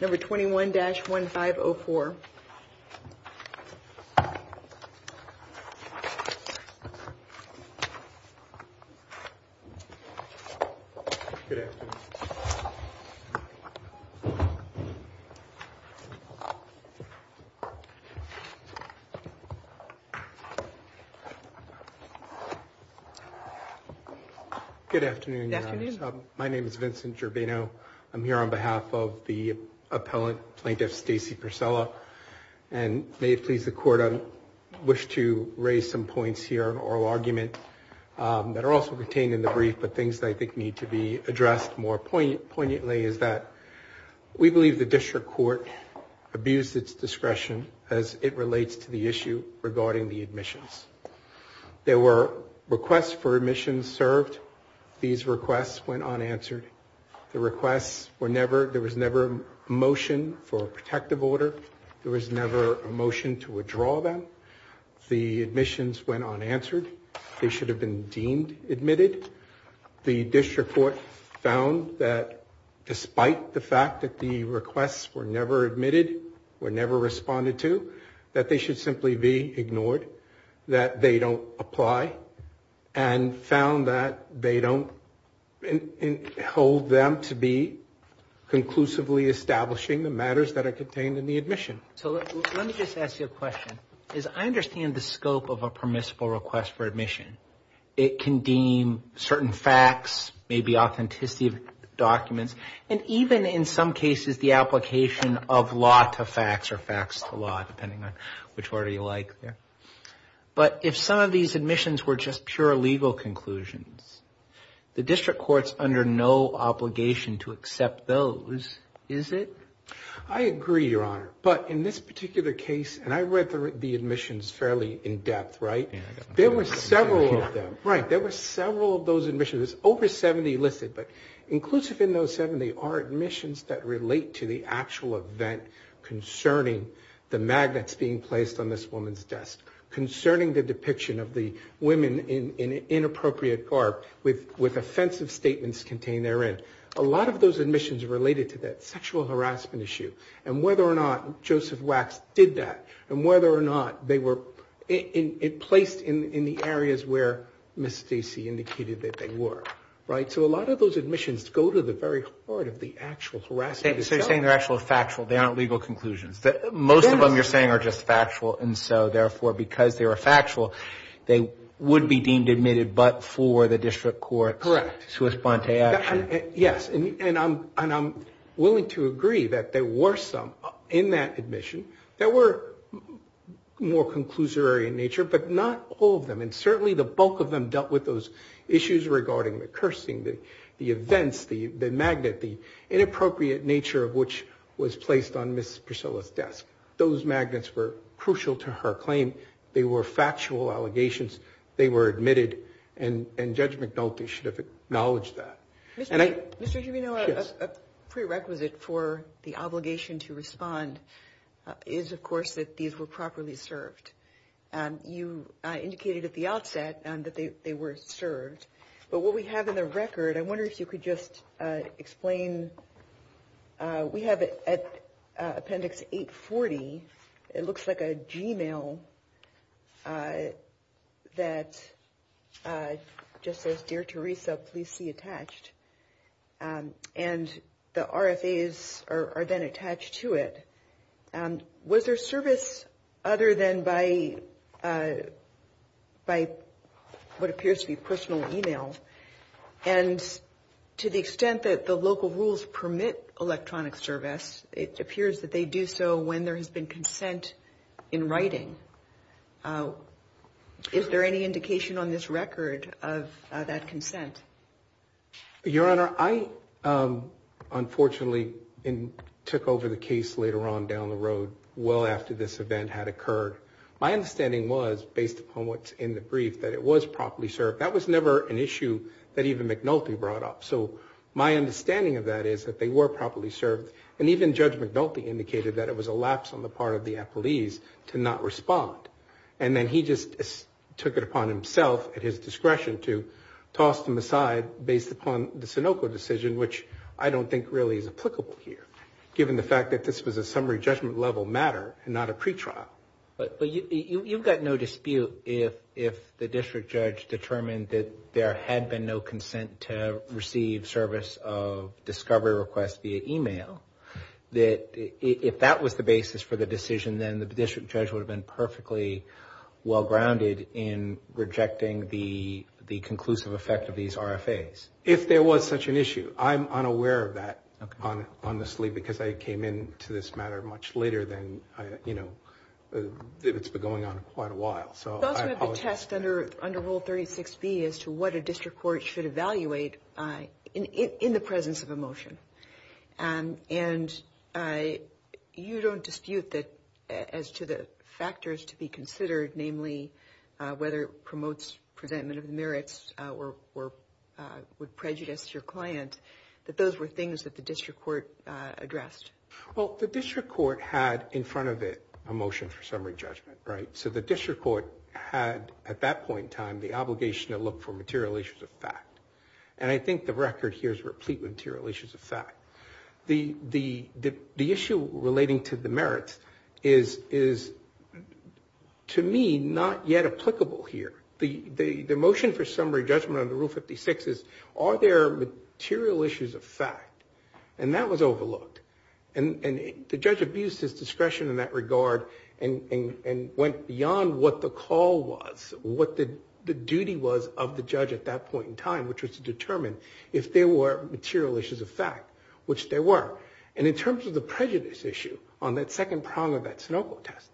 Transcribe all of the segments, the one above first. Number twenty one dash one fiber for Good afternoon My name is Vincent Gerbino. I'm here on behalf of the appellant plaintiff, Stacey Priscilla, and may it please the court. I wish to raise some points here or argument that are also contained in the brief, but things that I think need to be addressed more poignantly is that we believe the district court abused its discretion as it relates to the issue regarding the admissions. There were requests for admissions served. These requests went unanswered. The requests were never, there was never a motion for a protective order. There was never a motion to withdraw them. The admissions went unanswered. They should have been deemed admitted. The district court found that despite the fact that the requests were never admitted, were never responded to that they should simply be ignored that they don't apply and found that they don't hold them to be conclusively establishing the matters that are contained in the admission. So let me just ask you a question is I understand the scope of a permissible request for admission. It can deem certain facts, maybe authenticity of documents and even in some cases the application of law to facts or facts to law, depending on which order you like. Yeah. But if some of these admissions were just pure legal conclusions, the district court's under no obligation to accept those, is it? I agree your honor. But in this particular case, and I read the admissions fairly in depth, right? There were several of them, right? There were several of those admissions over 70 listed, but inclusive in those 70 are admissions that relate to the actual event concerning the magnets being placed on this woman's desk, concerning the depiction of the women in inappropriate garb with offensive statements contained therein. A lot of those admissions are related to that sexual harassment issue and whether or not Joseph Wax did that and whether or not they were placed in the areas where Ms. Stacy indicated that they were, right? So a lot of those admissions go to the very heart of the actual harassment. So you're saying they're actual factual, they aren't legal conclusions. Most of them you're saying are just factual. And so therefore because they were factual, they would be deemed admitted but for the district court to respond to action. Yes. And I'm willing to agree that there were some in that admission that were more conclusory in nature, but not all of them. And certainly the bulk of them dealt with those issues regarding the cursing, the events, the magnet, the inappropriate nature of which was placed on Ms. Priscilla's desk. Those magnets were crucial to her claim. They were factual allegations. They were admitted and Judge McNulty should have acknowledged that. Mr. Gimeno, a prerequisite for the obligation to respond is of course that these were properly served. And you indicated at the outset that they were served. But what we have in the record, I wonder if you could just explain, we have it at Appendix 840. It looks like a Gmail that just says, Dear Teresa, please see attached. And the RFAs are then attached to it. Was there service other than by by what appears to be personal email? And to the extent that the local rules permit electronic service, it appears that they do so when there has been consent in writing. Is there any indication on this record of that consent? Your Honor, I unfortunately took over the case later on down the road, well after this event had occurred. My understanding was based upon what's in the brief, that it was properly served. That was never an issue that even McNulty brought up. So my understanding of that is that they were properly served. And even Judge McNulty indicated that it was a lapse on the part of the appellees to not respond. And then he just took it upon himself at his discretion to toss them aside based upon the Sinoco decision, which I don't think really is applicable here given the fact that this was a But you've got no dispute if the district judge determined that there had been no consent to receive service of discovery requests via email, that if that was the basis for the decision, then the district judge would have been perfectly well grounded in rejecting the conclusive effect of these RFAs. If there was such an issue. I'm unaware of that honestly because I came in to this matter much later than I, you know, it's been going on quite a while. So I have a test under under rule 36 B as to what a district court should evaluate in the presence of a motion. And you don't dispute that as to the factors to be considered, namely whether it promotes presentment of the merits or would prejudice your client, that those were things that the district court addressed. Well, the district court had in front of it a motion for summary judgment, right? So the district court had at that point in time, the obligation to look for material issues of fact. And I think the record here is replete with material issues of fact. The issue relating to the merits is to me not yet applicable here. The motion for summary judgment under rule 56 is are there material issues of fact that were overlooked and the judge abused his discretion in that regard and went beyond what the call was, what the duty was of the judge at that point in time, which was to determine if there were material issues of fact, which there were. And in terms of the prejudice issue on that second prong of that snopo test,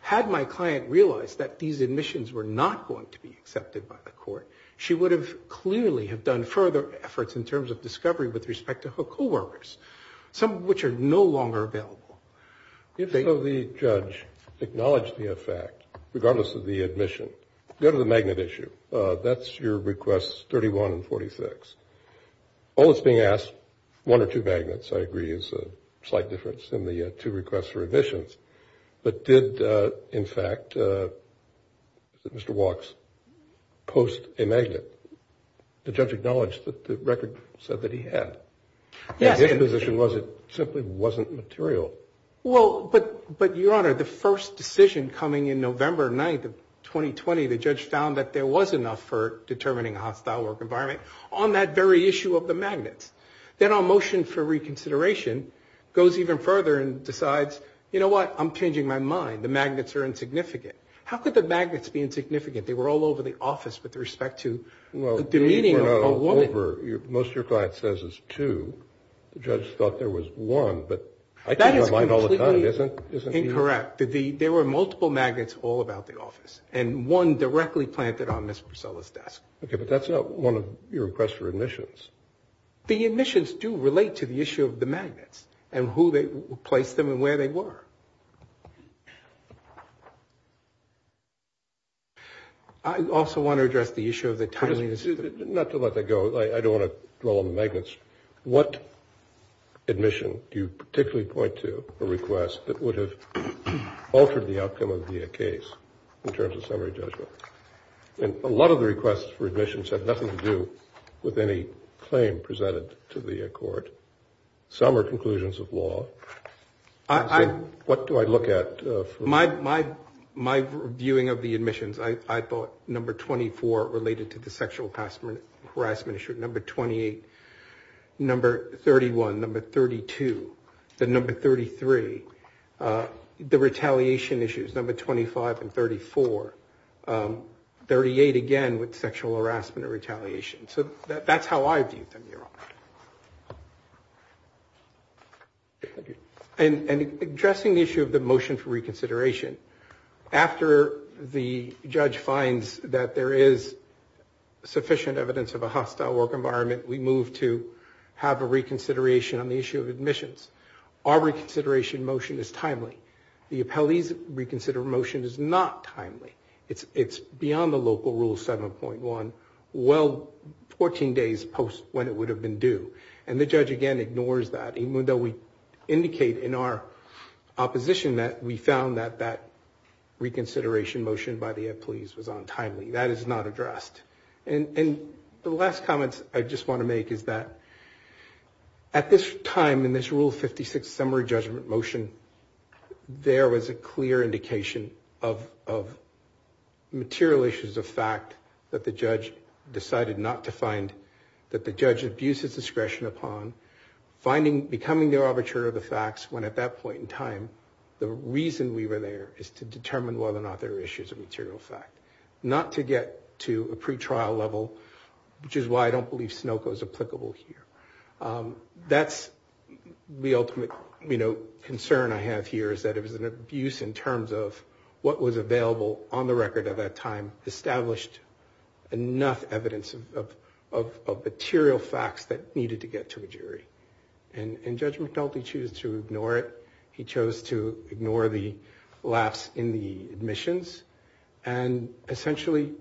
had my client realized that these admissions were not going to be accepted by the court, she would have clearly have done further efforts in terms of discovery with respect to her coworkers. Some of which are no longer available. If the judge acknowledged the effect, regardless of the admission, go to the magnet issue. That's your requests 31 and 46. All that's being asked one or two magnets, I agree is a slight difference in the two requests for admissions, but did in fact, Mr. Walks post a magnet. The judge acknowledged that the record said that he had. Yes. His position was it simply wasn't material. Well, but, but your honor, the first decision coming in November 9th of 2020, the judge found that there was enough for determining a hostile work environment on that very issue of the magnets. Then our motion for reconsideration goes even further and decides, you know what? I'm changing my mind. The magnets are insignificant. How could the magnets be insignificant? They were all over the office with respect to the meeting. Over your, most of your client says is two. The judge thought there was one, but I think I might all the time. Isn't, isn't incorrect that the, there were multiple magnets all about the office and one directly planted on Mr. Priscilla's desk. Okay. But that's not one of your requests for admissions. The admissions do relate to the issue of the magnets and who they place them and where they were. I also want to address the issue of the time. Not to let that go. I don't want to roll on the magnets. What admission do you particularly point to a request that would have altered the outcome of the case in terms of summary judgment? And a lot of the requests for admissions have nothing to do with any claim presented to the court. Some are conclusions of law. What do I look at? My, my, my viewing of the admissions. I thought number 24 related to the sexual harassment harassment issue. Number 28, number 31, number 32, the number 33 the retaliation issues, number 25 and 34 38 again with sexual harassment or retaliation. So that's how I view them. And addressing the issue of the motion for reconsideration after the judge finds that there is sufficient evidence of a hostile work environment. We move to have a reconsideration on the issue of admissions. Our reconsideration motion is timely. The appellees reconsider motion is not timely. It's it's beyond the local rule 7.1 well, 14 days post when it would have been due. And the judge again ignores that even though we indicate in our opposition that we found that that reconsideration motion by the police was on timely, that is not addressed. And the last comments I just want to make is that at this time in this rule 56 summary judgment motion, there was a clear indication of, of material issues of fact that the judge decided not to find that the judge abuses discretion upon finding, becoming the arbitrator of the facts. When at that point in time, the reason we were there is to determine whether or not there are issues of material fact, not to get to a pretrial level, which is why I don't believe Snoko is applicable here. Um, that's the ultimate, you know, concern I have here is that it was an abuse in terms of what was available on the record at that time, established enough evidence of, of, of, of material facts that needed to get to a jury. And judge McDulty choose to ignore it. He chose to ignore the lapse in the admissions and essentially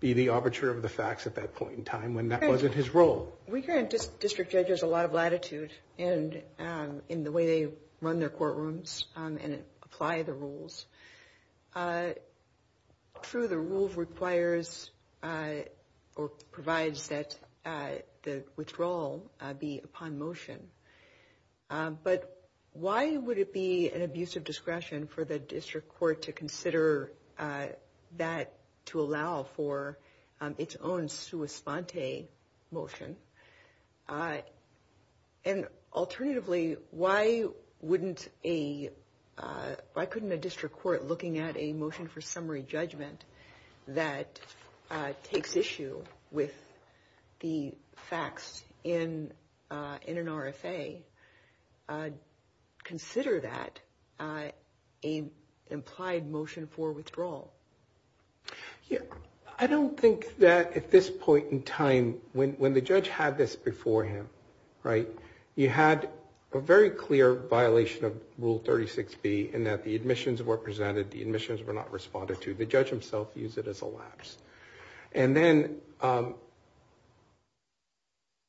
be the arbitrator of the facts at that point in time, when that wasn't his role. We grant district judges a lot of latitude and, um, in the way they run their courtrooms, um, and apply the rules. Uh, true. The rule requires, uh, or provides that, uh, withdrawal, uh, be upon motion. Um, but why would it be an abuse of discretion for the district court to consider, uh, that to allow for, um, its own sua sponte motion? Uh, and alternatively, why wouldn't a, uh, why couldn't a district court looking at a motion for summary judgment that, uh, takes issue with the facts in, uh, in an RFA, uh, consider that, uh, a implied motion for withdrawal. Yeah. I don't think that at this point in time, when, when the judge had this before him, right, you had a very clear violation of rule 36 B and that the admissions were presented. The admissions were not responded to the judge himself, use it as a lapse. And then, um,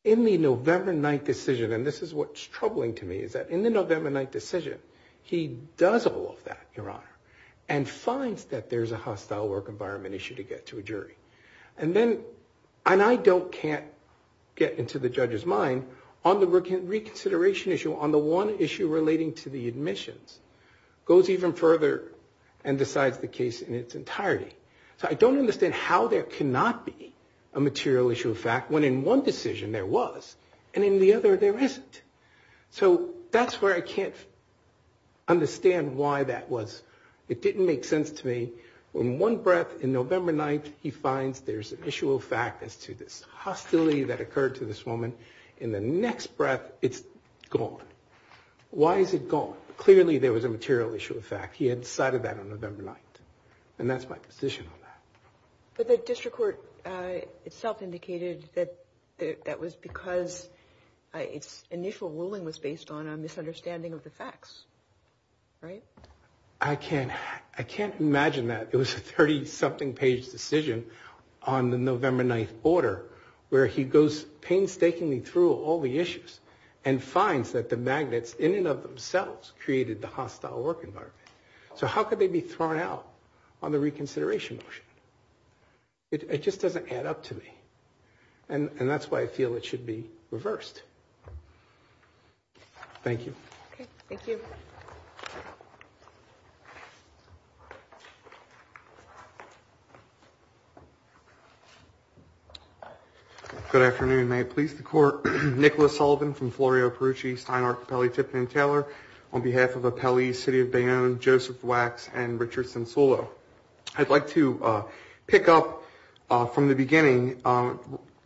in the November night decision, and this is what's troubling to me is that in the November night decision, he does all of that, your honor, and finds that there's a hostile work environment issue to get to a jury. And then, and I don't, can't get into the judge's mind on the work and reconsideration issue on the one issue relating to the admissions goes even further and decides the case in its entirety. So I don't understand how there cannot be a material issue of fact when in one decision there was, and in the other, there isn't. So that's where I can't understand why that was. It didn't make sense to me when one breath in November night, he finds there's an issue of fact as to this hostility that occurred to this woman in the next breath, it's gone. Why is it gone? Clearly there was a material issue of fact. He had decided that on November night. And that's my position on that. But the district court itself indicated that that was because it's initial ruling was based on a misunderstanding of the facts, right? I can't, I can't imagine that it was a 30 something page decision on the November 9th order where he goes painstakingly through all the issues and finds that the magnets in and of themselves created the hostile work environment. So how could they be thrown out on the reconsideration motion? It just doesn't add up to me. And that's why I feel it should be reversed. Thank you. Thank you. Good afternoon. May it please the court. Nicholas Sullivan from Florio, Perucci, Stein, Archipelago, Tipton, Taylor. On behalf of a Pele, city of Bayonne, Joseph Wax, and Richardson Solo. I'd like to pick up from the beginning,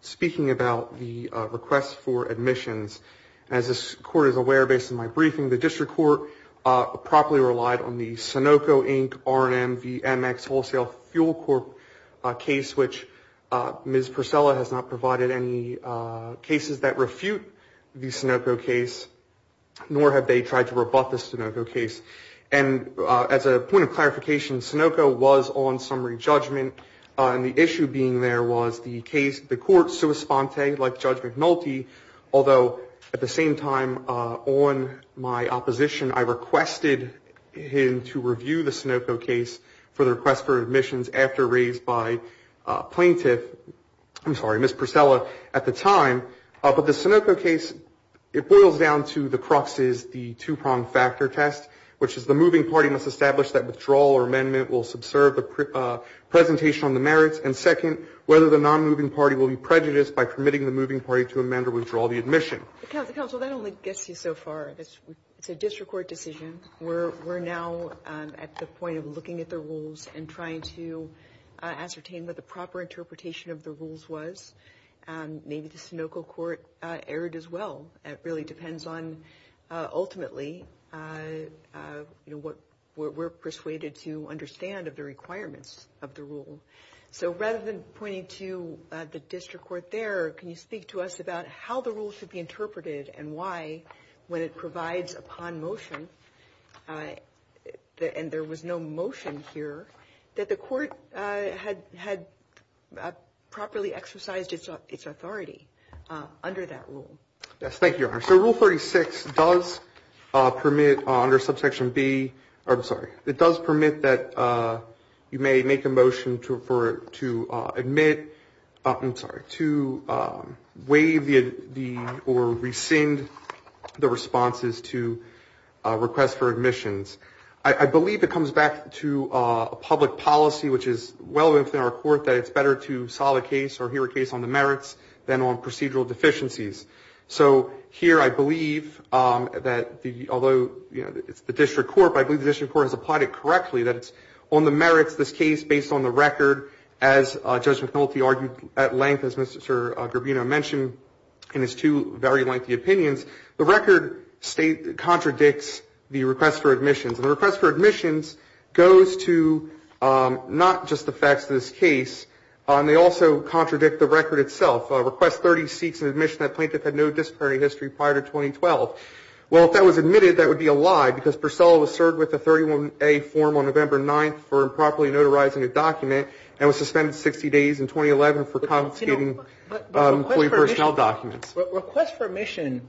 speaking about the request for admissions. As this court is aware, based on my briefing, the district court properly relied on the Sunoco Inc, RNM, VMX, Wholesale Fuel Corp case, which Ms. Priscilla has not provided any cases that refute the Sunoco case, nor have they tried to rebut the Sunoco case. And as a point of clarification, Sunoco was on summary judgment. And the issue being there was the case, the court, so a sponte like judge McNulty, although at the same time on my opposition, I requested him to review the Sunoco case for the request for admissions after raised by a plaintiff. I'm sorry, Ms. Priscilla at the time, but the Sunoco case, it boils down to the cruxes, the two-prong factor test, which is the moving party must establish that withdrawal or amendment will subserve the presentation on the merits. And second, whether the non-moving party will be prejudiced by permitting the moving party to amend or withdraw the admission. The council, that only gets you so far. It's a district court decision. We're, we're now at the point of looking at the rules and trying to ascertain that the proper interpretation of the rules was maybe the Sunoco court erred as well. It really depends on ultimately you know, what we're, we're persuaded to understand of the requirements of the rule. So rather than pointing to the district court there, can you speak to us about how the rule should be interpreted and why when it provides upon motion the, and there was no motion here that the court had, had properly exercised its authority under that rule. Yes. Thank you, your honor. So rule 36 does permit under subsection B or I'm sorry, it does permit that you may make a motion to, for, to admit, I'm sorry, to waive the, the, or rescind the responses to a request for admissions. I believe it comes back to a public policy, which is well within our court, that it's better to solve a case or hear a case on the merits than on procedural deficiencies. So here, I believe that the, although it's the district court, but I believe the district court has applied it correctly, that it's on the merits, this case based on the record, as a judge McNulty argued at length, as Mr. Garbino mentioned in his two very lengthy opinions, the record state contradicts the request for admissions and the request for admissions goes to not just the facts of this case. And they also contradict the record itself. A request 30 seats in admission. That plaintiff had no disciplinary history prior to 2012. Well, if that was admitted, that would be a lie because Priscilla was served with a 31A form on November 9th for improperly notarizing a document and was suspended 60 days in 2011 for confiscating employee personnel documents. Request for admission,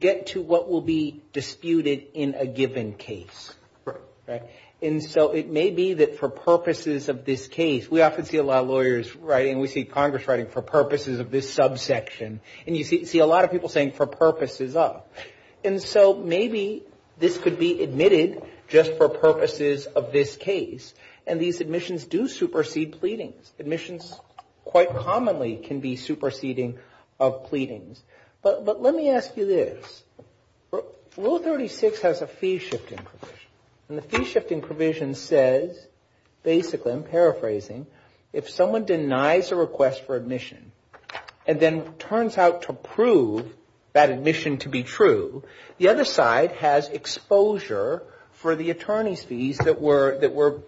get to what will be disputed in a given case. Right. Right. And so it may be that for purposes of this case, we often see a lot of lawyers writing, we see Congress writing for purposes of this subsection and you see a lot of people saying for purposes of, and so maybe this could be admitted just for purposes of this case. And these admissions do supersede pleadings. Admissions quite commonly can be superseding of pleadings. But, but let me ask you this rule 36 has a fee shifting and the fee shifting provision says basically I'm paraphrasing. If someone denies a request for admission and then turns out to prove that admission to be true, the other side has exposure for the attorney's fees that were, that were,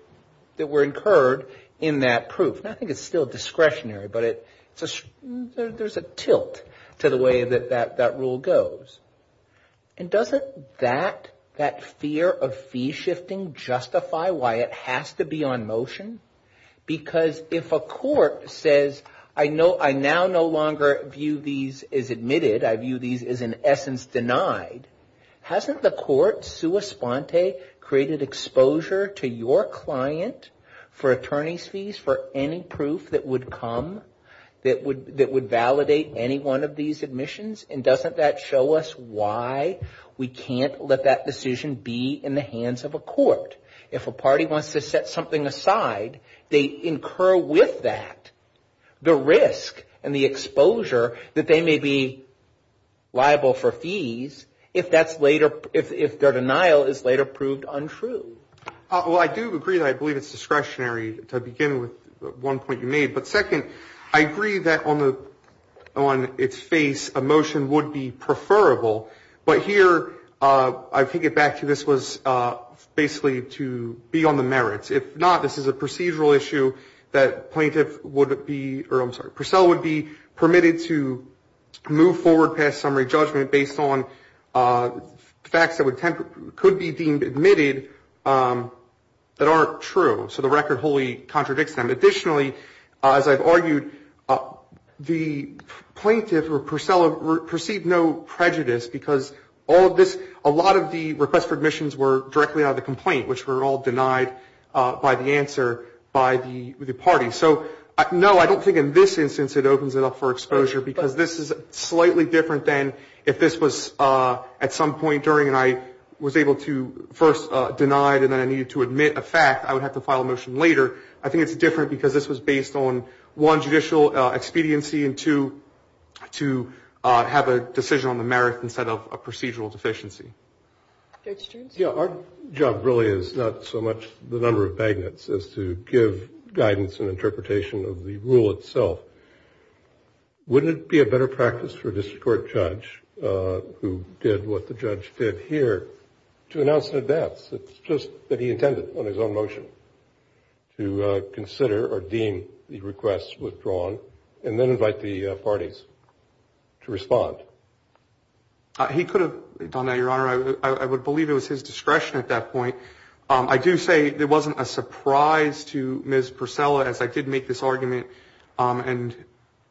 that were incurred in that proof. And I think it's still discretionary, but it's a, there's a tilt to the way that that, that rule goes. And doesn't that, that fear of fee shifting justify why it has to be on motion? Because if a court says, I know I now no longer view these as admitted. I view these as in essence denied. Hasn't the court sua sponte created exposure to your client for attorney's fees, for any proof that would come that would, that would validate any one of these admissions. And doesn't that show us why we can't let that decision be in the hands of a court. If a party wants to set something aside, they incur with that, the risk and the exposure that they may be liable for fees. If that's later, if, if their denial is later proved untrue. Well, I do agree that I believe it's discretionary to begin with one point you made, but second, I agree that on the, on its face, a motion would be preferable, but here I think it back to, this was basically to be on the merits. If not, this is a procedural issue that plaintiff would be, or I'm sorry, Purcell would be permitted to move forward past summary judgment based on facts that would tend to could be deemed admitted that aren't true. So the record wholly contradicts them. Additionally, as I've argued, the plaintiff or Purcell perceived no prejudice because all of this, a lot of the requests for admissions were directly out of the complaint, which were all denied by the answer by the party. So no, I don't think in this instance, it opens it up for exposure because this is slightly different than if this was at some point during, and I was able to first denied, and then I needed to admit a fact I would have to file a motion later. I think it's different because this was based on one judicial expediency and two have a decision on the merit instead of a procedural deficiency. Yeah. Our job really is not so much the number of magnets as to give guidance and interpretation of the rule itself. Wouldn't it be a better practice for a district court judge who did what the judge did here to announce an advance? It's just that he intended on his own motion to consider or deem the requests withdrawn and then invite the parties to respond. He could have done that. Your honor, I would believe it was his discretion at that point. I do say there wasn't a surprise to Ms. Purcell as I did make this argument and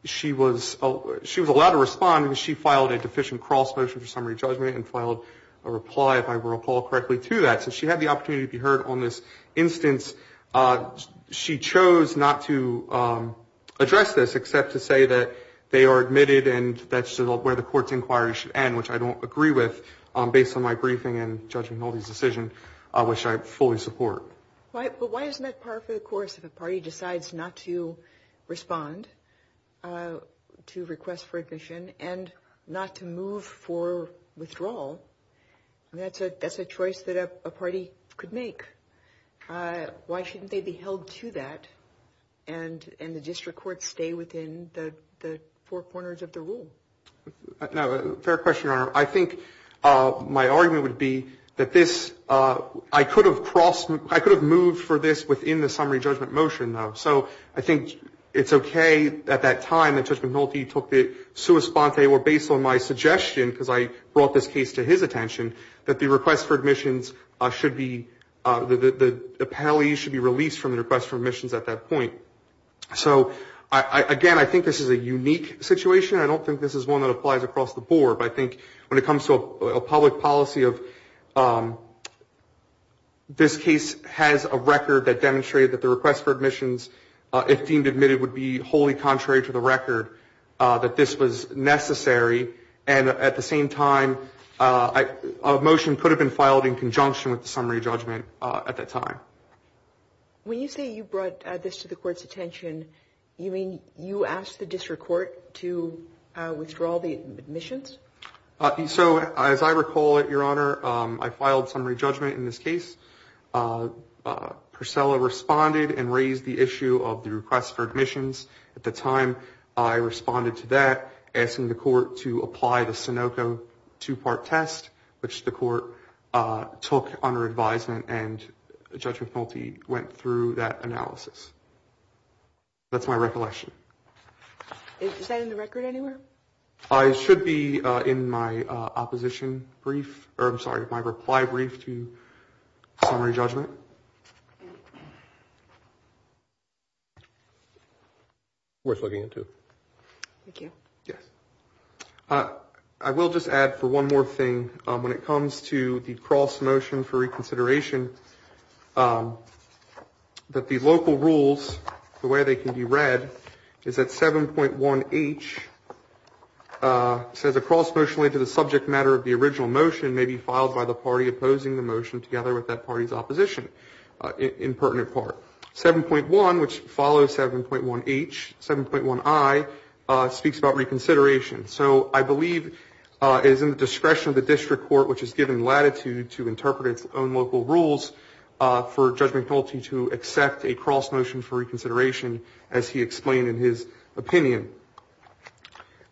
she was, she was allowed to respond and she filed a deficient cross motion for summary judgment and filed a reply if I recall correctly to that. So she had the opportunity to be heard on this instance. She chose not to address this except to say that they are admitted and that's where the court's inquiry should end, which I don't agree with based on my briefing and Judge McNulty's decision, which I fully support. But why isn't that par for the course if a party decides not to respond to requests for admission and not to move for withdrawal? And that's a, that's a choice that a party could make. Why shouldn't they be held to that and, and the district courts stay within the four corners of the rule? No, fair question, your honor. I think my argument would be that this I could have crossed, I could have moved for this within the summary judgment motion though. So I think it's okay at that time that Judge McNulty took the sue response. They were based on my suggestion because I brought this case to his attention that the request for admissions should be, the appellees should be released from the request for admissions at that point. So I, again, I think this is a unique situation. I don't think this is one that applies across the board, but I think when it comes to a public policy of this case has a record that demonstrated that the request for admissions if deemed admitted would be wholly contrary to the record that this was necessary. And at the same time a motion could have been filed in conjunction with the summary judgment at that time. When you say you brought this to the court's attention, you mean you asked the district court to withdraw the admissions? So as I recall it, your honor, I filed summary judgment in this case. Priscilla responded and raised the issue of the request for admissions. At the time I responded to that asking the court to apply the Sunoco two-part test, which the court took under advisement and Judge McNulty went through that analysis. That's my recollection. Is that in the record anywhere? I should be in my opposition brief or I'm sorry, my reply brief to summary judgment. Worth looking into. Thank you. Yes. I will just add for one more thing. When it comes to the cross motion for reconsideration that the local rules, the way they can be read is that 7.1 H says across emotionally to the subject matter of the original motion may be filed by the party opposing the motion together with that party's opposition in pertinent part 7.1 which follows 7.1 H 7.1 I speaks about reconsideration. So I believe it is in the discretion of the district court, which has given latitude to interpret its own local rules for Judge McNulty to accept a cross motion for reconsideration as he explained in his opinion.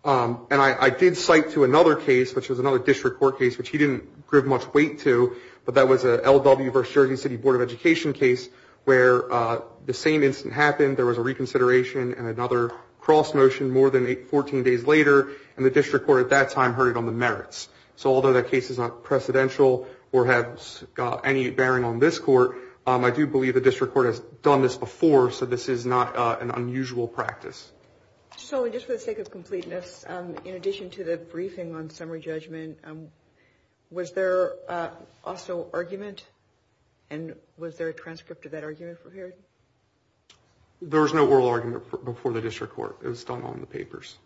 And I did cite to another case, which was another district court case, which he didn't give much weight to, but that was a LW versus Jersey City Board of Education case where the same incident happened. There was a reconsideration and another cross motion more than 14 days later. And the district court at that time heard it on the merits. So although that case is not precedential or have any bearing on this court I do believe the district court has done this before. So this is not an unusual practice. So just for the sake of completeness in addition to the briefing on summary judgment was there also argument and was there a transcript of that argument prepared? There was no oral argument before the district court. It was done on the papers.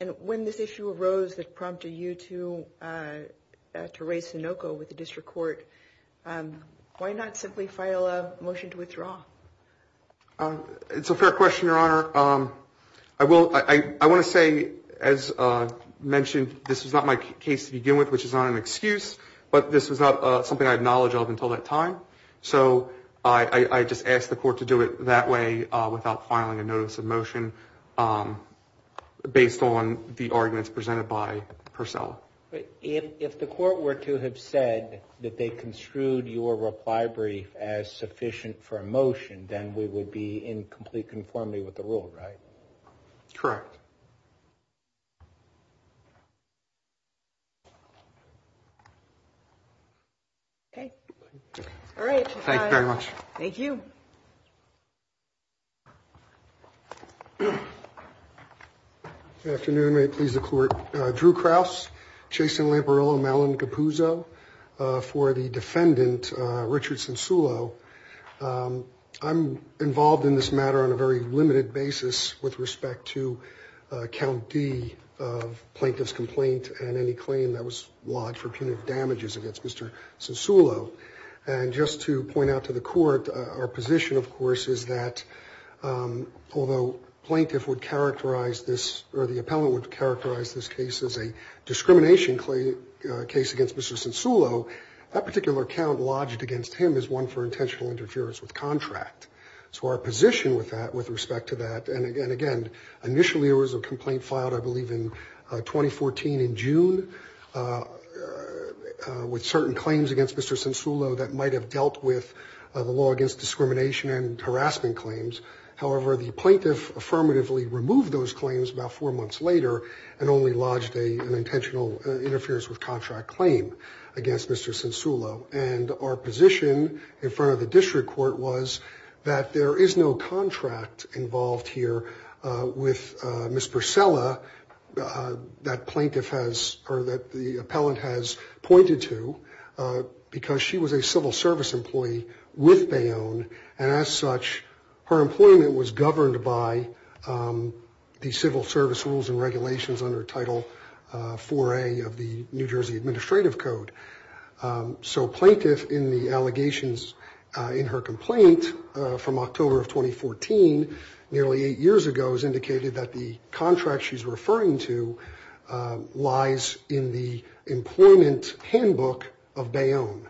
And when this issue arose that prompted you to, uh, to raise Sonoco with the district court, um, why not simply file a motion to withdraw? Um, it's a fair question, Your Honor. Um, I will, I, I want to say, as I mentioned, this was not my case to begin with, which is not an excuse, but this was not something I had knowledge of until that time. So I, I, I just asked the court to do it that way, uh, without filing a notice of motion, um, based on the arguments presented by Purcell. If the court were to have said that they construed your reply brief as sufficient for a motion, then we would be in complete conformity with the rule, right? Correct. Okay. Okay. All right. Thank you very much. Thank you. Good afternoon. May it please the court. Uh, Drew Krauss, Jason Lamparillo, Malin Capuzzo, uh, for the defendant, uh, Richardson Sulo. Um, I'm involved in this matter on a very limited basis with respect to, uh, count D of plaintiff's complaint and any claim that was lodged for punitive damages against Mr. Sonsolo. And just to point out to the court, our position of course, is that, um, although plaintiff would characterize this or the appellant would characterize this case as a discrimination claim, uh, case against Mr. Sonsolo, that particular account lodged against him is one for intentional interference with contract. So our position with that, with respect to that, and again, initially it was a complaint filed, I believe in 2014 in June, uh, with certain claims against Mr. Sonsolo that might've dealt with the law against discrimination and harassment claims. However, the plaintiff affirmatively removed those claims about four months later and only lodged a, an intentional interference with contract claim against Mr. Sonsolo. And our position in front of the district court was that there is no contract involved here, uh, with, uh, Ms. Purcella, uh, that plaintiff has, or that the appellant has pointed to, uh, because she was a civil service employee with Bayonne and as such, her employment was governed by, um, the civil service rules and regulations under title, uh, for a of the New Jersey administrative code. Um, so plaintiff in the allegations, uh, in her complaint, uh, from October of 2014, nearly eight years ago has indicated that the contract she's referring to, uh, lies in the employment handbook of Bayonne.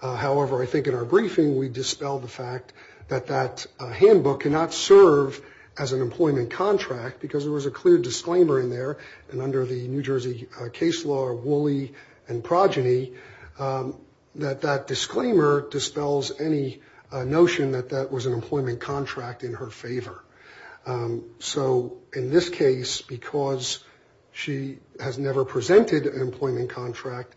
Uh, however, I think in our briefing, we dispel the fact that that handbook cannot serve as an employment contract because there was a clear disclaimer in there. And under the New Jersey case law or Woolley and progeny, um, that that disclaimer dispels any notion that that was an employment contract in her favor. Um, so in this case, because she has never presented an employment contract,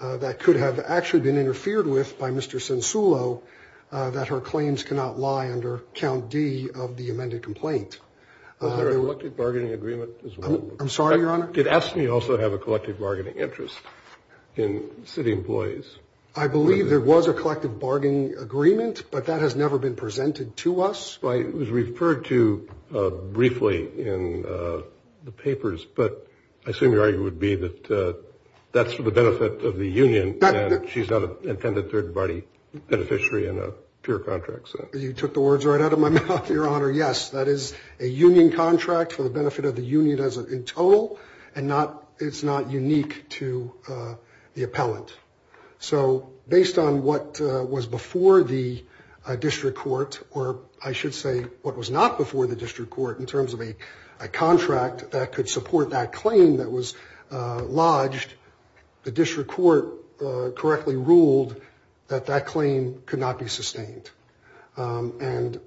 uh, that could have actually been interfered with by Mr. Sensulo, uh, that her claims cannot lie under count D of the amended complaint. Uh, I'm sorry, your honor. Did S and E also have a collective bargaining interest in city employees? I believe there was a collective bargaining agreement, but that has never been presented to us. It was referred to, uh, briefly in, uh, the papers, but I assume your argument would be that, uh, that's for the benefit of the union. She's not an intended third party beneficiary in a pure contract. So you took the words right out of my mouth, your honor. Yes. That is a union contract for the benefit of the union as a total. And not, it's not unique to, uh, the appellant. So based on what, uh, was before the, uh, district court, or I should say what was not before the district court in terms of a, a contract that could support that claim that was, uh, lodged, the district court, uh, correctly ruled that that claim could not be sustained. Um, and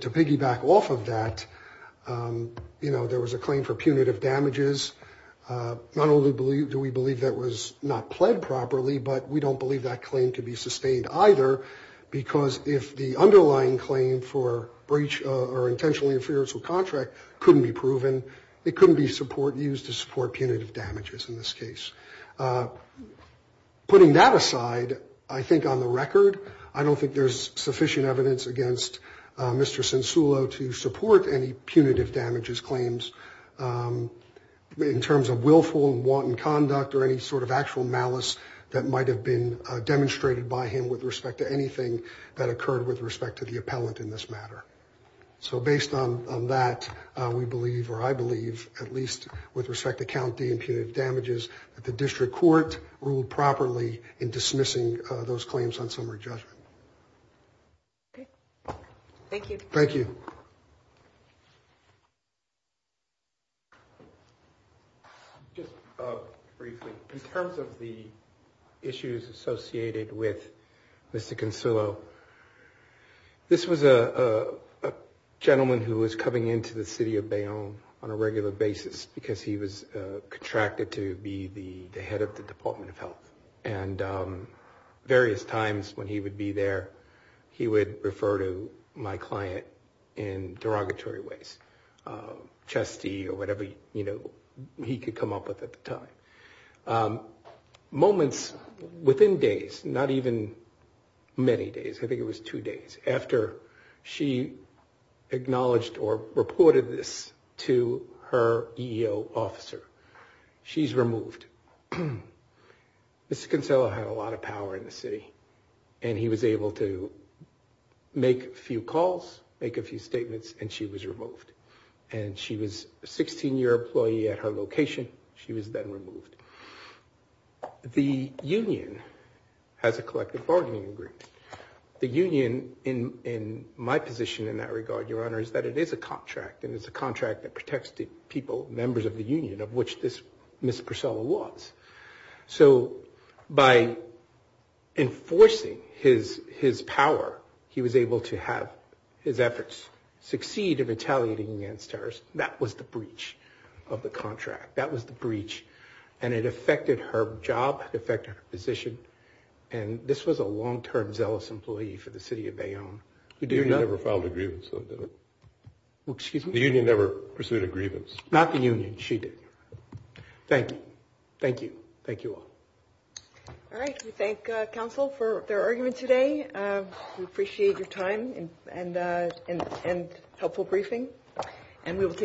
to piggyback off of that, um, you know, there was a claim for punitive damages. Uh, not only do we believe, do we believe that was not pled properly, but we don't believe that claim to be sustained either because if the underlying claim for breach or intentionally inferential contract couldn't be proven, it couldn't be support used to support punitive damages in this case. Uh, putting that aside, I think on the record, I don't think there's sufficient evidence against, uh, Mr. Censulo to support any punitive damages claims, um, in terms of willful and wanton conduct or any sort of actual malice that might have been demonstrated by him with respect to anything that occurred with respect to the appellant in this matter. So based on, on that, uh, we believe, or I believe at least with respect to County and punitive damages, that the district court ruled properly in dismissing those claims on summary judgment. Okay. Thank you. Thank you. Just, uh, briefly in terms of the issues associated with Mr. Censulo, this was a, a gentleman who was coming into the city of Bayonne on a regular basis because he was contracted to be the head of the department of health and, um, various times when he would be there, he would refer to my client in derogatory ways, um, trustee or whatever, you know, he could come up with at the time, um, moments within days, not even many days. I think it was two days after she acknowledged or reported this to her EEO officer. She's removed. Mr. Censulo had a lot of power in the city and he was able to make a few calls, make a few statements and she was removed and she was a 16 year employee at her location. She was then removed. The union has a collective bargaining agreement. The union in, in my position in that regard, your honor, is that it is a contract and it's a contract that protects the people, members of the union of which this Ms. Purcell was. So by enforcing his, his power, he was able to have his efforts succeed in retaliating against her. That was the breach of the contract. That was the breach. And it affected her job, affected her position. And this was a long-term zealous employee for the city of Bayonne. The union never filed a grievance though, did it? Well, excuse me? The union never pursued a grievance, not the union. She did. Thank you. Thank you. Thank you all. All right. We thank a council for their argument today. We appreciate your time and, and, and, and helpful briefing. And we will take.